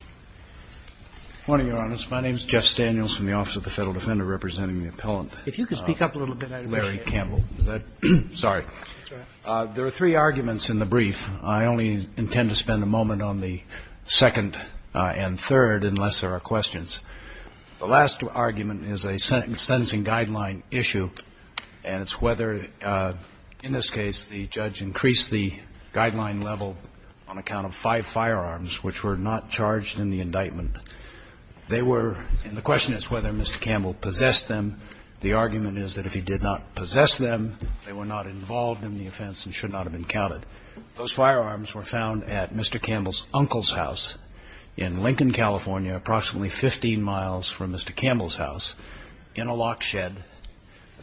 Good morning, Your Honors. My name is Jeff Daniels from the Office of the Federal Defender representing the appellant. If you could speak up a little bit, I'd appreciate it. Larry Campbell. Sorry. That's all right. There are three arguments in the brief. I only intend to spend a moment on the second and third unless there are questions. The last argument is a sentencing guideline issue, and it's whether, in this case, the judge increased the guideline level on account of five firearms which were not charged in the indictment. They were, and the question is whether Mr. Campbell possessed them. The argument is that if he did not possess them, they were not involved in the offense and should not have been counted. Those firearms were found at Mr. Campbell's uncle's house in Lincoln, California, approximately 15 miles from Mr. Campbell's house, in a lock shed,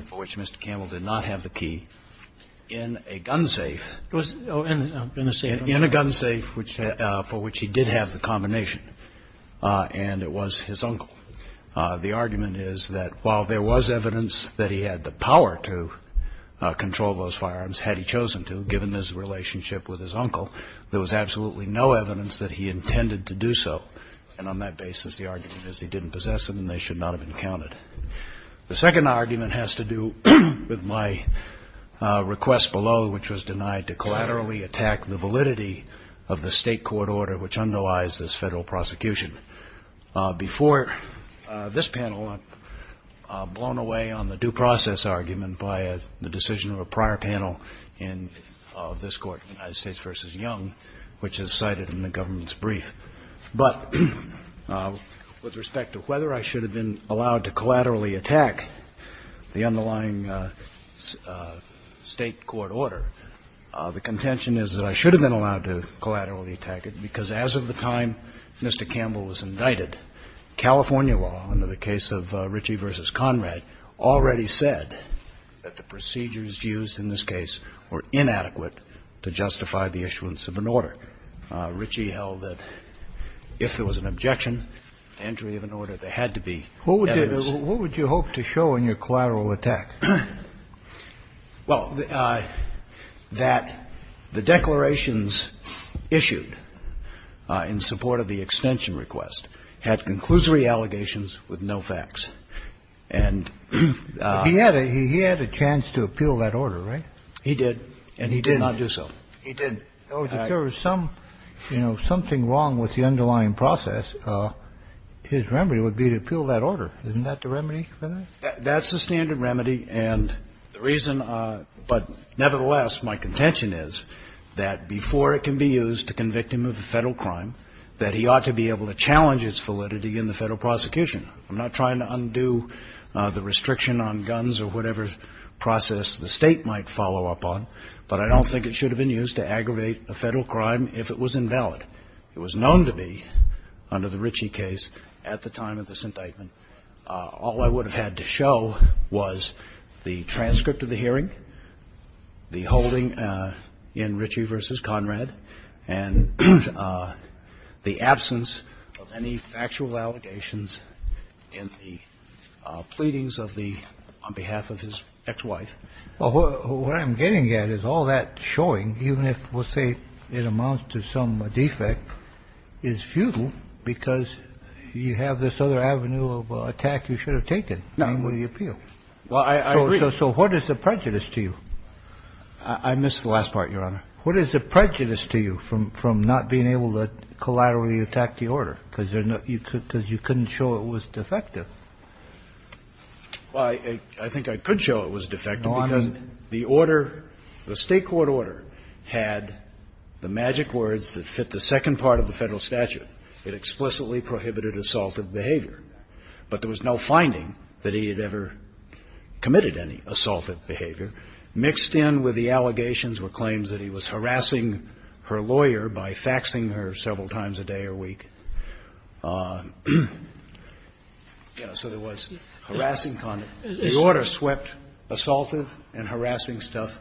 for which Mr. Campbell did not have the key, in a gun safe. In a gun safe, for which he did have the combination, and it was his uncle. The argument is that while there was evidence that he had the power to control those firearms, had he chosen to, given his relationship with his uncle, there was absolutely no evidence that he intended to do so. And on that basis, the argument is he didn't possess them and they should not have been counted. The second argument has to do with my request below, which was denied to collaterally attack the validity of the state court order which underlies this federal prosecution. Before this panel, I'm blown away on the due process argument by the decision of a prior panel in this court, United States v. Young, which is cited in the government's The contention is that I should have been allowed to collaterally attack it, because as of the time Mr. Campbell was indicted, California law, under the case of Ritchie v. Conrad, already said that the procedures used in this case were inadequate to justify the issuance of an order. Ritchie held that if there was an objection to entry of an order, there had to be a reason for it to be issued. Kennedy, what would you hope to show in your collateral attack? Well, that the declarations issued in support of the extension request had conclusory allegations with no facts, and he had a chance to appeal that order, right? He did. And he did not do so. He did. If there was some, you know, something wrong with the underlying process, his remedy would be to appeal that order. Isn't that the remedy for that? That's the standard remedy. And the reason — but nevertheless, my contention is that before it can be used to convict him of a Federal crime, that he ought to be able to challenge its validity in the Federal prosecution. I'm not trying to undo the restriction on guns or whatever process the State might follow up on, but I don't think it should have been used to aggravate a Federal crime if it was invalid. But it was known to be, under the Ritchie case, at the time of this indictment, all I would have had to show was the transcript of the hearing, the holding in Ritchie v. Conrad, and the absence of any factual allegations in the pleadings of the — on behalf of his ex-wife. Well, what I'm getting at is all that showing, even if, we'll say, it amounts to some sort of defect, is futile because you have this other avenue of attack you should have taken, namely the appeal. Well, I agree. So what is the prejudice to you? I missed the last part, Your Honor. What is the prejudice to you from not being able to collaterally attack the order? Because there's no — because you couldn't show it was defective. Well, I think I could show it was defective because the order, the State court order, had the magic words that fit the second part of the Federal statute. It explicitly prohibited assaultive behavior. But there was no finding that he had ever committed any assaultive behavior. Mixed in with the allegations were claims that he was harassing her lawyer by faxing her several times a day or week. You know, so there was harassing conduct. The order swept assaultive and harassing stuff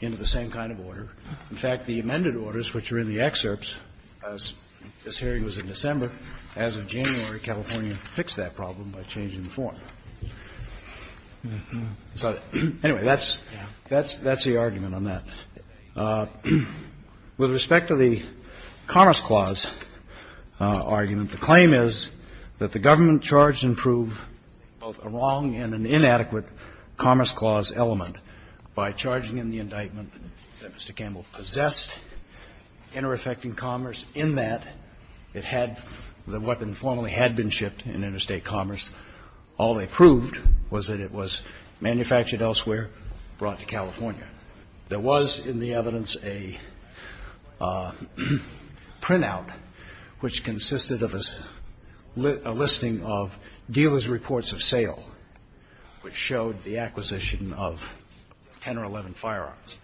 into the same kind of order. In fact, the amended orders, which are in the excerpts, as this hearing was in December, as of January, California fixed that problem by changing the form. So, anyway, that's the argument on that. With respect to the Commerce Clause argument, the claim is that the government charged and proved both a wrong and an inadequate Commerce Clause element by charging in the indictment that Mr. Campbell possessed inter-effecting commerce in that it had — the weapon formally had been shipped in interstate commerce. All they proved was that it was manufactured elsewhere, brought to California. There was, in the evidence, a printout which consisted of a listing of dealers' reports of sale, which showed the acquisition of 10 or 11 firearms,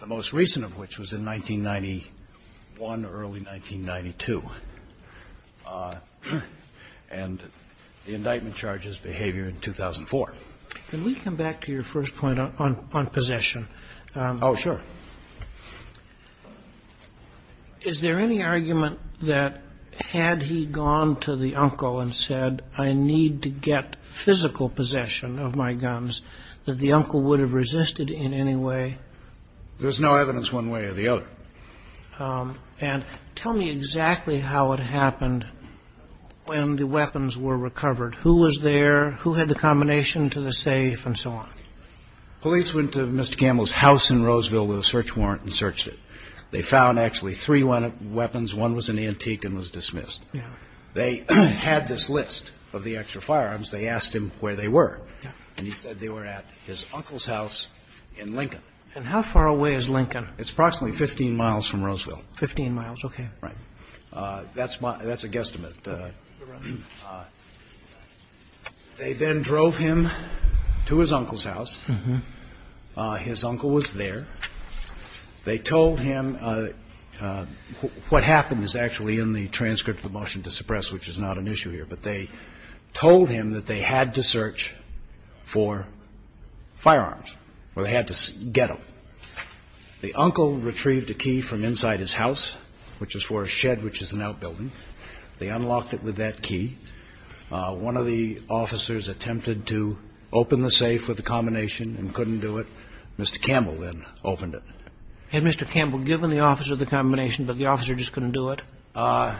the most recent of which was in 1991, early 1992, and the indictment charges behavior in 2004. Can we come back to your first point on possession? Oh, sure. Is there any argument that had he gone to the uncle and said, I need to get physical possession of my guns, that the uncle would have resisted in any way? There's no evidence one way or the other. And tell me exactly how it happened when the weapons were recovered. Who was there? Who had the combination to the safe and so on? Police went to Mr. Campbell's house in Roseville with a search warrant and searched it. They found actually three weapons. One was an antique and was dismissed. They had this list of the extra firearms. They asked him where they were. And he said they were at his uncle's house in Lincoln. And how far away is Lincoln? It's approximately 15 miles from Roseville. Fifteen miles. Okay. Right. That's a guesstimate. They then drove him to his uncle's house. His uncle was there. They told him what happened is actually in the transcript of the motion to suppress, which is not an issue here. But they told him that they had to search for firearms or they had to get them. The uncle retrieved a key from inside his house, which is for a shed, which is an outbuilding. They unlocked it with that key. One of the officers attempted to open the safe with the combination and couldn't do it. Mr. Campbell then opened it. Had Mr. Campbell given the officer the combination, but the officer just couldn't do it? I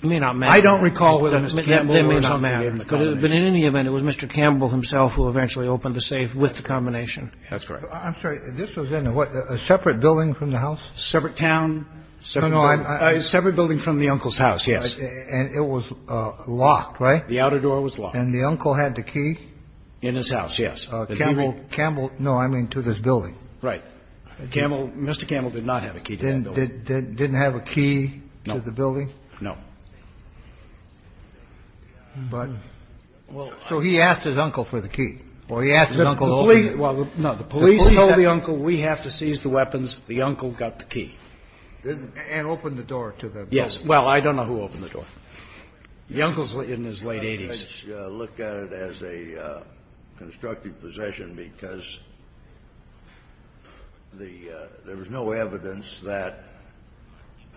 don't recall whether Mr. Campbell or somebody gave him the combination. But in any event, it was Mr. Campbell himself who eventually opened the safe with the combination. That's correct. I'm sorry. This was in a what? A separate building from the house? Separate town. No, no. A separate building from the uncle's house, yes. And it was locked, right? The outer door was locked. And the uncle had the key? In his house, yes. Campbell, no, I mean to this building. Right. Mr. Campbell did not have a key to that building. Didn't have a key to the building? No. But. So he asked his uncle for the key. Or he asked his uncle to open it. Well, no. The police told the uncle, we have to seize the weapons. The uncle got the key. And opened the door to the building? Yes. Well, I don't know who opened the door. The uncle's in his late 80s. Let's look at it as a constructive possession because there was no evidence that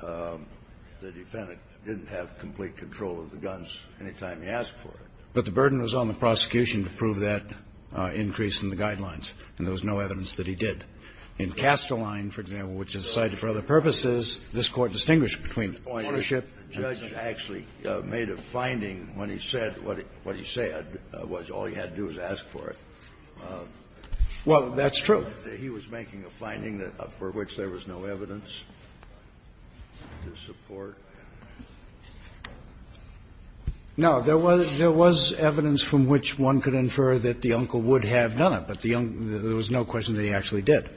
the defendant didn't have complete control of the guns any time he asked for it. But the burden was on the prosecution to prove that increase in the guidelines. And there was no evidence that he did. In Casteline, for example, which is cited for other purposes, this Court distinguished between ownership. The judge actually made a finding when he said what he said was all he had to do was ask for it. Well, that's true. He was making a finding for which there was no evidence to support. No. There was evidence from which one could infer that the uncle would have done it. But there was no question that he actually did.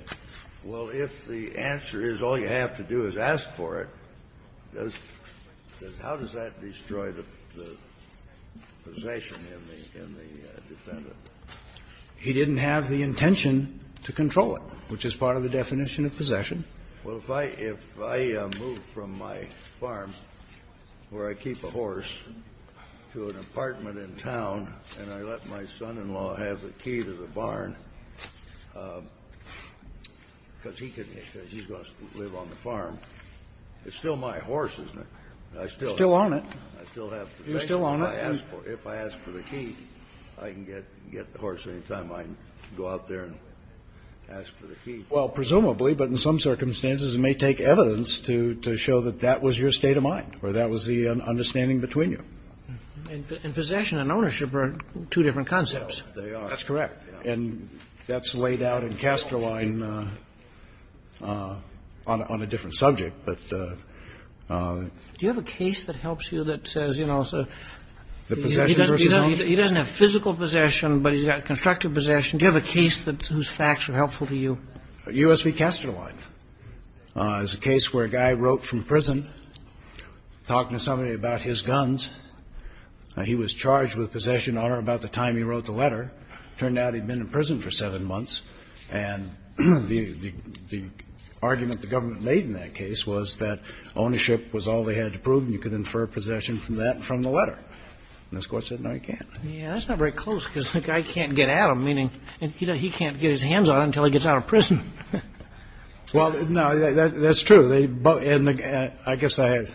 Well, if the answer is all you have to do is ask for it, how does that destroy the possession in the defendant? He didn't have the intention to control it, which is part of the definition of possession. Well, if I move from my farm where I keep a horse to an apartment in town and I let my son-in-law have the key to the barn because he's going to live on the farm, it's still my horse, isn't it? It's still on it. It's still on it. If I ask for the key, I can get the horse any time I go out there and ask for the key. Well, presumably, but in some circumstances, it may take evidence to show that that was your state of mind or that was the understanding between you. And possession and ownership are two different concepts. They are. That's correct. And that's laid out in Casterline on a different subject. Do you have a case that helps you that says, you know, he doesn't have physical possession, but he's got constructive possession? Do you have a case whose facts are helpful to you? U.S. v. Casterline is a case where a guy wrote from prison talking to somebody about his guns. He was charged with possession on or about the time he wrote the letter. It turned out he'd been in prison for seven months. And the argument the government made in that case was that ownership was all they had to prove and you could infer possession from that and from the letter. And this Court said, no, you can't. Yeah, that's not very close because the guy can't get at him, meaning he can't get his hands on him until he gets out of prison. Well, no, that's true. And I guess the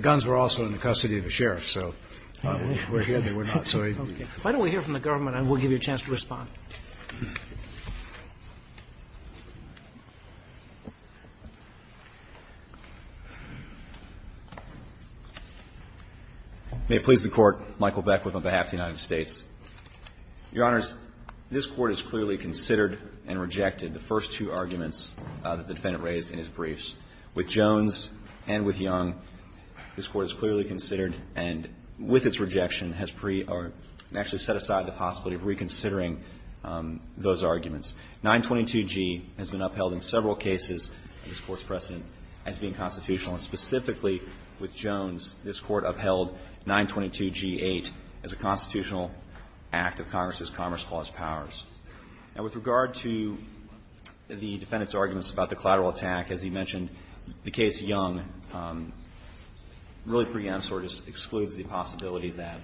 guns were also in the custody of the sheriff. So we're here. They were not. Why don't we hear from the government and we'll give you a chance to respond. May it please the Court. Michael Beckwith on behalf of the United States. Your Honors, this Court has clearly considered and rejected the first two arguments that the defendant raised in his briefs. With Jones and with Young, this Court has clearly considered and with its rejection has pre- or actually set aside the possibility of reconsidering the argument that the defendant made in his briefs. Those arguments. 922G has been upheld in several cases and this Court's precedent as being constitutional and specifically with Jones, this Court upheld 922G-8 as a constitutional act of Congress's Commerce Clause powers. Now, with regard to the defendant's arguments about the collateral attack, as you mentioned, the case Young really preempts or just excludes the possibility that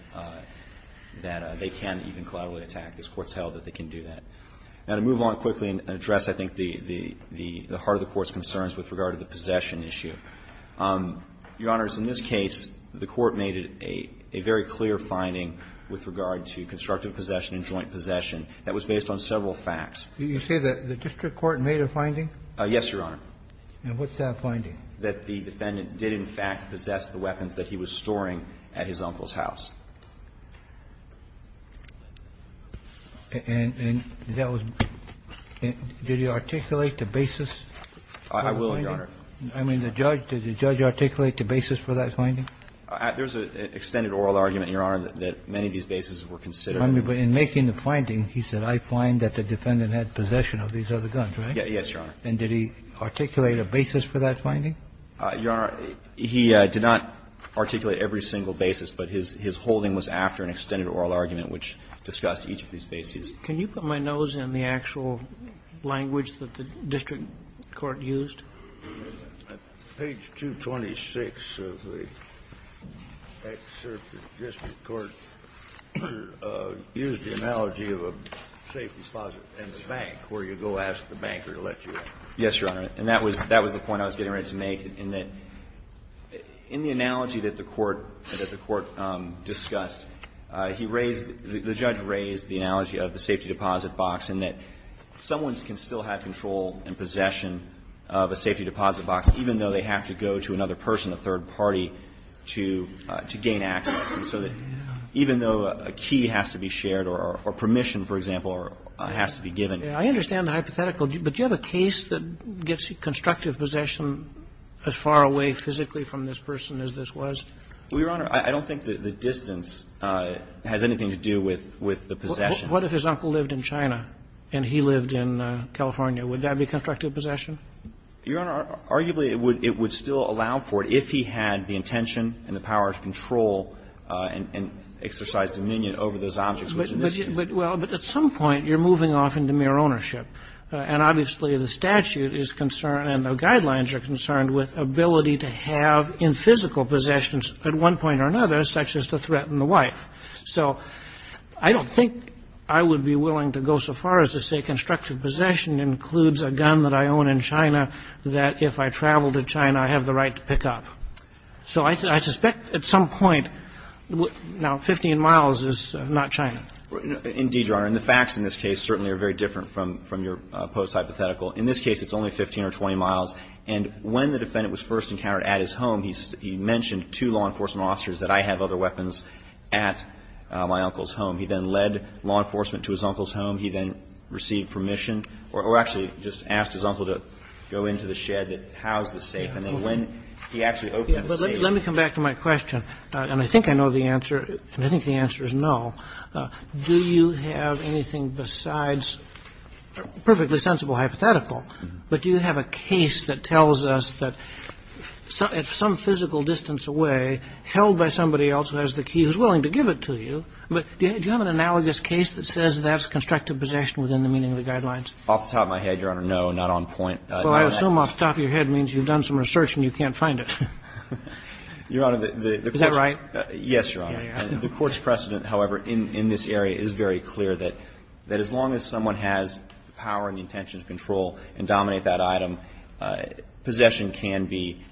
they can even collaterally attack. This Court's held that they can do that. Now, to move on quickly and address, I think, the heart of the Court's concerns with regard to the possession issue. Your Honors, in this case, the Court made a very clear finding with regard to constructive possession and joint possession that was based on several facts. Did you say that the district court made a finding? Yes, Your Honor. And what's that finding? That the defendant did in fact possess the weapons that he was storing at his uncle's house. And that was – did he articulate the basis for the finding? I will, Your Honor. I mean, the judge – did the judge articulate the basis for that finding? There's an extended oral argument, Your Honor, that many of these bases were considered. I mean, but in making the finding, he said I find that the defendant had possession of these other guns, right? Yes, Your Honor. And did he articulate a basis for that finding? Your Honor, he did not articulate every single basis, but his whole argument was after an extended oral argument which discussed each of these bases. Can you put my nose in the actual language that the district court used? Page 226 of the excerpt of the district court used the analogy of a safe deposit in the bank where you go ask the banker to let you in. Yes, Your Honor. And that was – that was the point I was getting ready to make, in that in the analogy that the court discussed, he raised – the judge raised the analogy of the safety deposit box and that someone can still have control and possession of a safety deposit box even though they have to go to another person, a third party, to gain access. And so that even though a key has to be shared or permission, for example, has to be given. I understand the hypothetical, but do you have a case that gets constructive possession as far away physically from this person as this was? Well, Your Honor, I don't think that the distance has anything to do with the possession. What if his uncle lived in China and he lived in California? Would that be constructive possession? Your Honor, arguably it would still allow for it if he had the intention and the power to control and exercise dominion over those objects. But at some point you're moving off into mere ownership. And obviously the statute is concerned and the guidelines are concerned with ability to have in physical possessions at one point or another such as to threaten the wife. So I don't think I would be willing to go so far as to say constructive possession includes a gun that I own in China that if I travel to China I have the right to pick up. So I suspect at some point – now, 15 miles is not China. Indeed, Your Honor. And the facts in this case certainly are very different from your post-hypothetical. In this case it's only 15 or 20 miles. And when the defendant was first encountered at his home, he mentioned to law enforcement officers that I have other weapons at my uncle's home. He then led law enforcement to his uncle's home. He then received permission or actually just asked his uncle to go into the shed that housed the safe. And then when he actually opened up the safe – Let me come back to my question. And I think I know the answer. And I think the answer is no. Do you have anything besides perfectly sensible hypothetical? But do you have a case that tells us that at some physical distance away held by somebody else who has the key who's willing to give it to you – do you have an analogous case that says that's constructive possession within the meaning of the Off the top of my head, Your Honor, no. Not on point. Well, I assume off the top of your head means you've done some research and you can't find it. Your Honor, the – Is that right? Yes, Your Honor. The court's precedent, however, in this area is very clear that as long as someone has the power and the intention to control and dominate that item, possession can be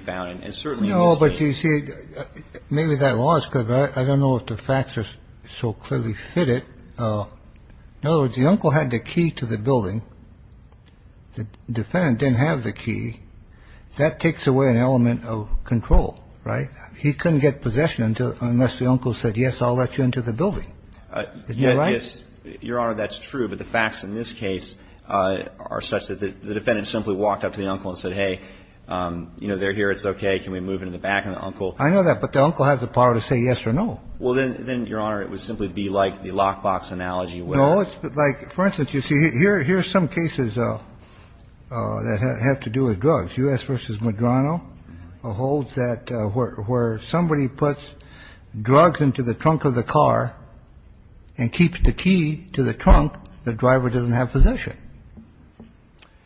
found. And certainly in this case – No, but you see, maybe that law is good. I don't know if the facts are so clearly fitted. In other words, the uncle had the key to the building. The defendant didn't have the key. That takes away an element of control, right? He couldn't get possession unless the uncle said, yes, I'll let you into the building. Is that right? Yes. Your Honor, that's true. But the facts in this case are such that the defendant simply walked up to the uncle and said, hey, you know, they're here. It's okay. Can we move into the back? And the uncle – I know that. But the uncle has the power to say yes or no. Well, then, Your Honor, it would simply be like the lockbox analogy where – No. Like, for instance, you see, here are some cases that have to do with drugs. U.S. v. Medrano holds that where somebody puts drugs into the trunk of the car and keeps the key to the trunk, the driver doesn't have possession.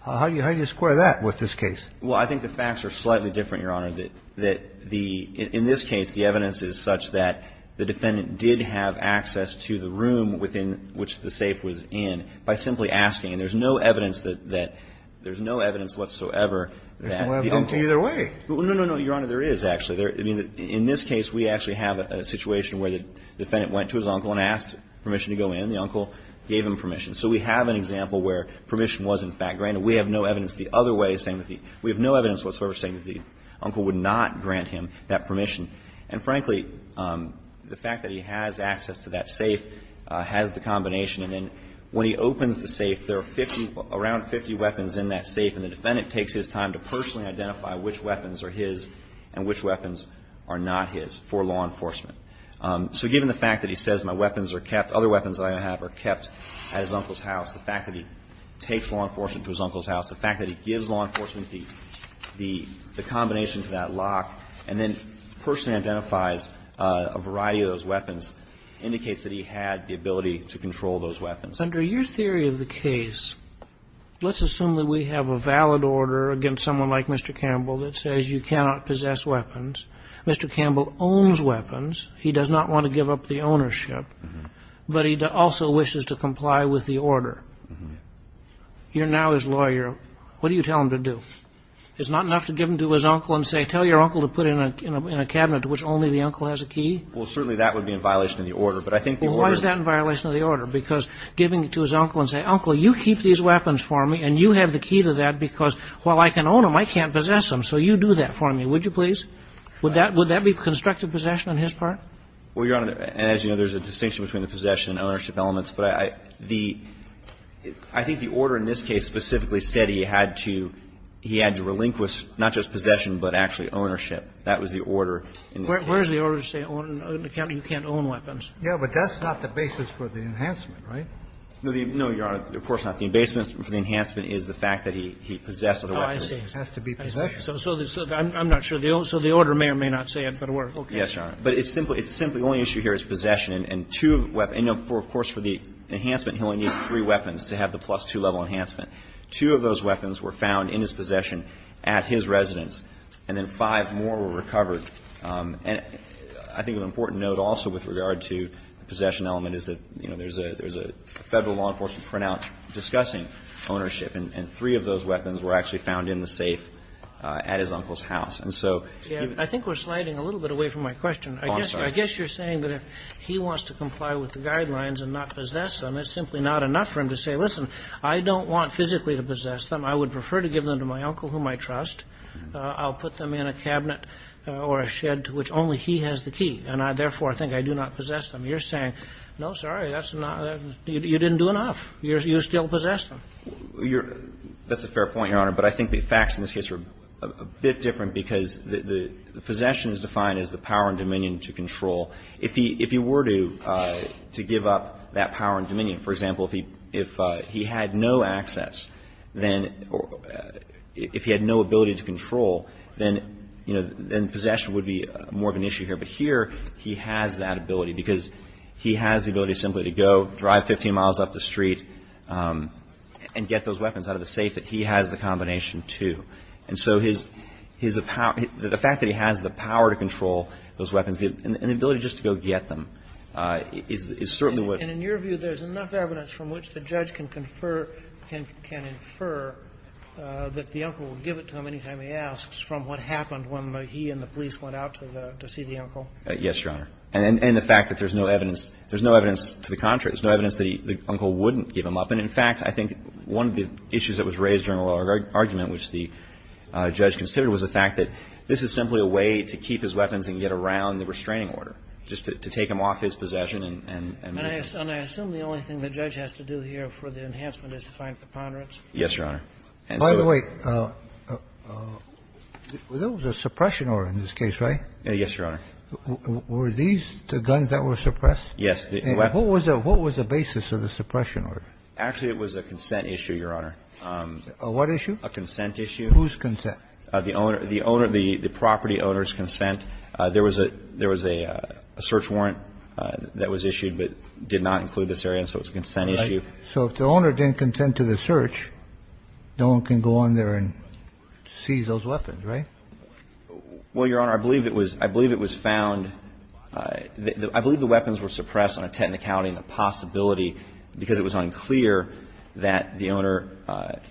How do you square that with this case? Well, I think the facts are slightly different, Your Honor, that the – in this case, the evidence is such that the defendant did have access to the room within which the safe was in by simply asking. And there's no evidence that – there's no evidence whatsoever that the uncle – There's no evidence either way. No, no, no, Your Honor. There is, actually. I mean, in this case, we actually have a situation where the defendant went to his uncle and asked permission to go in. The uncle gave him permission. So we have an example where permission was, in fact, granted. We have no evidence the other way saying that the – we have no evidence whatsoever saying that the uncle would not grant him that permission. And frankly, the fact that he has access to that safe has the combination. And then when he opens the safe, there are 50 – around 50 weapons in that safe, and the defendant takes his time to personally identify which weapons are his and which weapons are not his for law enforcement. So given the fact that he says my weapons are kept, other weapons that I have are kept at his uncle's house, the fact that he takes law enforcement to his uncle's house, the fact that he gives law enforcement the combination to that lock, and then the fact that he has the ability to control those weapons. Kennedy. Under your theory of the case, let's assume that we have a valid order against someone like Mr. Campbell that says you cannot possess weapons. Mr. Campbell owns weapons. He does not want to give up the ownership, but he also wishes to comply with the order. You're now his lawyer. What do you tell him to do? Is it not enough to give them to his uncle and say, tell your uncle to put it in a Well, certainly that would be in violation of the order. But I think the order Well, why is that in violation of the order? Because giving it to his uncle and saying, uncle, you keep these weapons for me and you have the key to that because while I can own them, I can't possess them, so you do that for me. Would you please? Would that be constructive possession on his part? Well, Your Honor, as you know, there's a distinction between the possession and ownership elements. But I think the order in this case specifically said he had to relinquish not just possession but actually ownership. That was the order in this case. Where is the order to say you can't own weapons? Yeah, but that's not the basis for the enhancement, right? No, Your Honor. Of course not. The basis for the enhancement is the fact that he possessed the weapons. Oh, I see. It has to be possession. I'm not sure. So the order may or may not say it, but we're okay. Yes, Your Honor. But it's simply the only issue here is possession. And two weapons. Of course, for the enhancement, he only needs three weapons to have the plus-two level enhancement. Two of those weapons were found in his possession at his residence, and then five more were recovered. And I think an important note also with regard to the possession element is that, you know, there's a Federal law enforcement printout discussing ownership, and three of those weapons were actually found in the safe at his uncle's house. And so even ---- I think we're sliding a little bit away from my question. Oh, I'm sorry. I guess you're saying that if he wants to comply with the guidelines and not possess them, it's simply not enough for him to say, listen, I don't want physically to possess them. I would prefer to give them to my uncle, whom I trust. I'll put them in a cabinet or a shed to which only he has the key. And I, therefore, think I do not possess them. You're saying, no, sorry, that's not ---- you didn't do enough. You still possess them. You're ---- that's a fair point, Your Honor. But I think the facts in this case are a bit different because the possession is defined as the power and dominion to control. If he were to give up that power and dominion, for example, if he had no access, then if he had no ability to control, then, you know, then possession would be more of an issue here. But here he has that ability because he has the ability simply to go drive 15 miles up the street and get those weapons out of the safe that he has the combination to. And so his ---- the fact that he has the power to control those weapons and the ability just to go get them is certainly what ---- And in your view, there's enough evidence from which the judge can confer ---- can infer that the uncle will give it to him anytime he asks from what happened when he and the police went out to the ---- to see the uncle? Yes, Your Honor. And the fact that there's no evidence ---- there's no evidence to the contrary. There's no evidence that the uncle wouldn't give him up. And, in fact, I think one of the issues that was raised during the oral argument which the judge considered was the fact that this is simply a way to keep his weapons And I assume the only thing the judge has to do here for the enhancement is to find the ponderance? Yes, Your Honor. By the way, there was a suppression order in this case, right? Yes, Your Honor. Were these the guns that were suppressed? Yes. What was the basis of the suppression order? Actually, it was a consent issue, Your Honor. A what issue? A consent issue. Whose consent? The property owner's consent. There was a search warrant that was issued but did not include this area, so it was a consent issue. Right. So if the owner didn't consent to the search, no one can go on there and seize those weapons, right? Well, Your Honor, I believe it was found ---- I believe the weapons were suppressed on a technicality and the possibility, because it was unclear, that the owner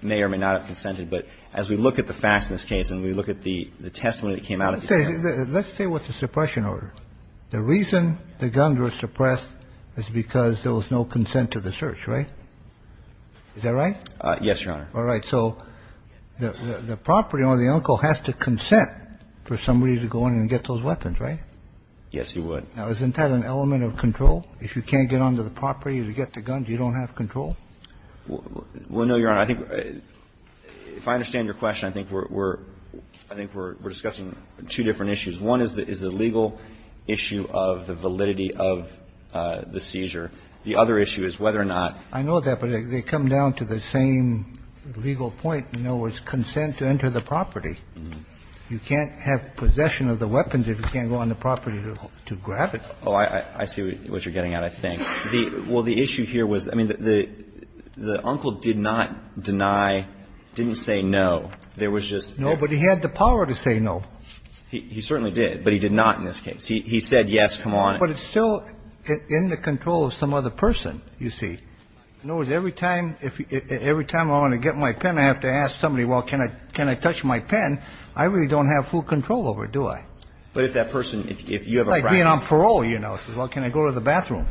may or may not have consented. But as we look at the facts in this case and we look at the testimony that came out Let's say it was a suppression order. The reason the guns were suppressed is because there was no consent to the search, right? Is that right? Yes, Your Honor. All right. So the property owner, the uncle, has to consent for somebody to go in and get those weapons, right? Yes, he would. Now, isn't that an element of control? If you can't get onto the property to get the guns, you don't have control? Well, no, Your Honor. I think if I understand your question, I think we're discussing two different issues. One is the legal issue of the validity of the seizure. The other issue is whether or not ---- I know that, but they come down to the same legal point. In other words, consent to enter the property. You can't have possession of the weapons if you can't go on the property to grab Oh, I see what you're getting at, I think. Well, the issue here was, I mean, the uncle did not deny, didn't say no. There was just ---- No, but he had the power to say no. He certainly did, but he did not in this case. He said, yes, come on. But it's still in the control of some other person, you see. In other words, every time I want to get my pen, I have to ask somebody, well, can I touch my pen? I really don't have full control over it, do I? But if that person, if you have a practice ----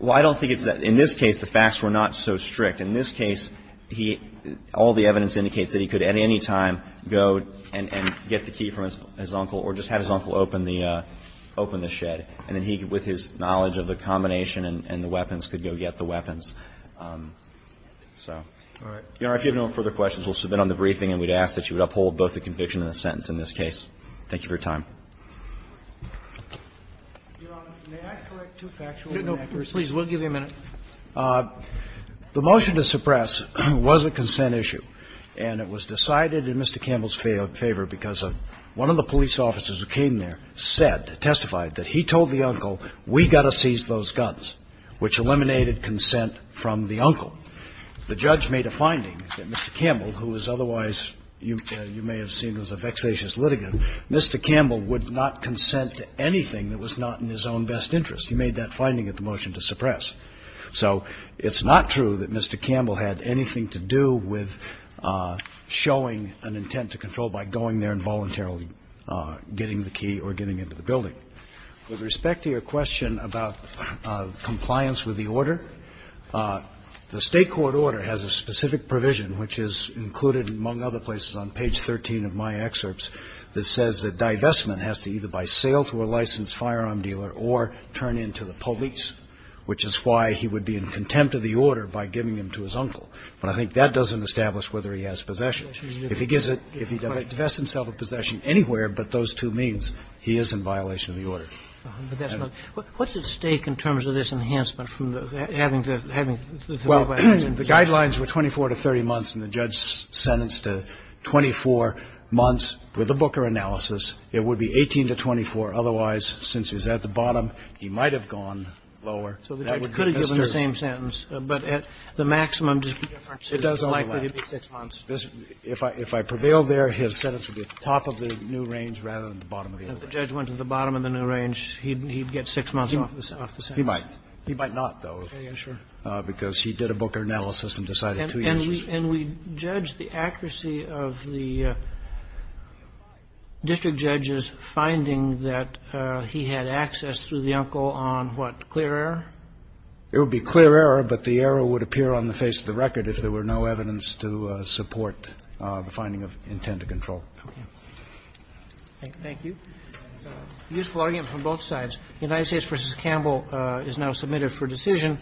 Well, I don't think it's that. In this case, the facts were not so strict. In this case, he ---- all the evidence indicates that he could, at any time, go and get the key from his uncle or just have his uncle open the shed. And then he, with his knowledge of the combination and the weapons, could go get the weapons. So. All right. Your Honor, if you have no further questions, we'll submit on the briefing, and we'd ask that you would uphold both the conviction and the sentence in this case. Thank you for your time. Your Honor, may I correct two factual inaccuracies? No, please. We'll give you a minute. The motion to suppress was a consent issue, and it was decided in Mr. Campbell's favor because one of the police officers who came there said, testified that he told the uncle, we've got to seize those guns, which eliminated consent from the uncle. The judge made a finding that Mr. Campbell, who is otherwise, you may have seen, was a vexatious litigant. Mr. Campbell would not consent to anything that was not in his own best interest. He made that finding at the motion to suppress. So, it's not true that Mr. Campbell had anything to do with showing an intent to control by going there and voluntarily getting the key or getting into the building. With respect to your question about compliance with the order, the state court order has a specific provision, which is included, among other places, on page 13 of my excerpts, that says that divestment has to either by sale to a licensed firearm dealer or turn in to the police, which is why he would be in contempt of the order by giving him to his uncle. But I think that doesn't establish whether he has possession. If he gives it, if he divests himself of possession anywhere but those two means, he is in violation of the order. But that's not, what's at stake in terms of this enhancement from having to, having Well, the guidelines were 24 to 30 months, and the judge sentenced to 24 months with a Booker analysis. It would be 18 to 24. Otherwise, since he's at the bottom, he might have gone lower. So the judge could have given the same sentence. But at the maximum difference, it's likely to be six months. If I prevail there, his sentence would be at the top of the new range rather than the bottom of the old range. And if the judge went to the bottom of the new range, he'd get six months off the same. He might. He might not, though, because he did a Booker analysis and decided two years is fair. And we judge the accuracy of the district judge's finding that he had access through the uncle on what, clear error? It would be clear error, but the error would appear on the face of the record if there were no evidence to support the finding of intent to control. Thank you. Useful argument from both sides. United States v. Campbell is now submitted for decision.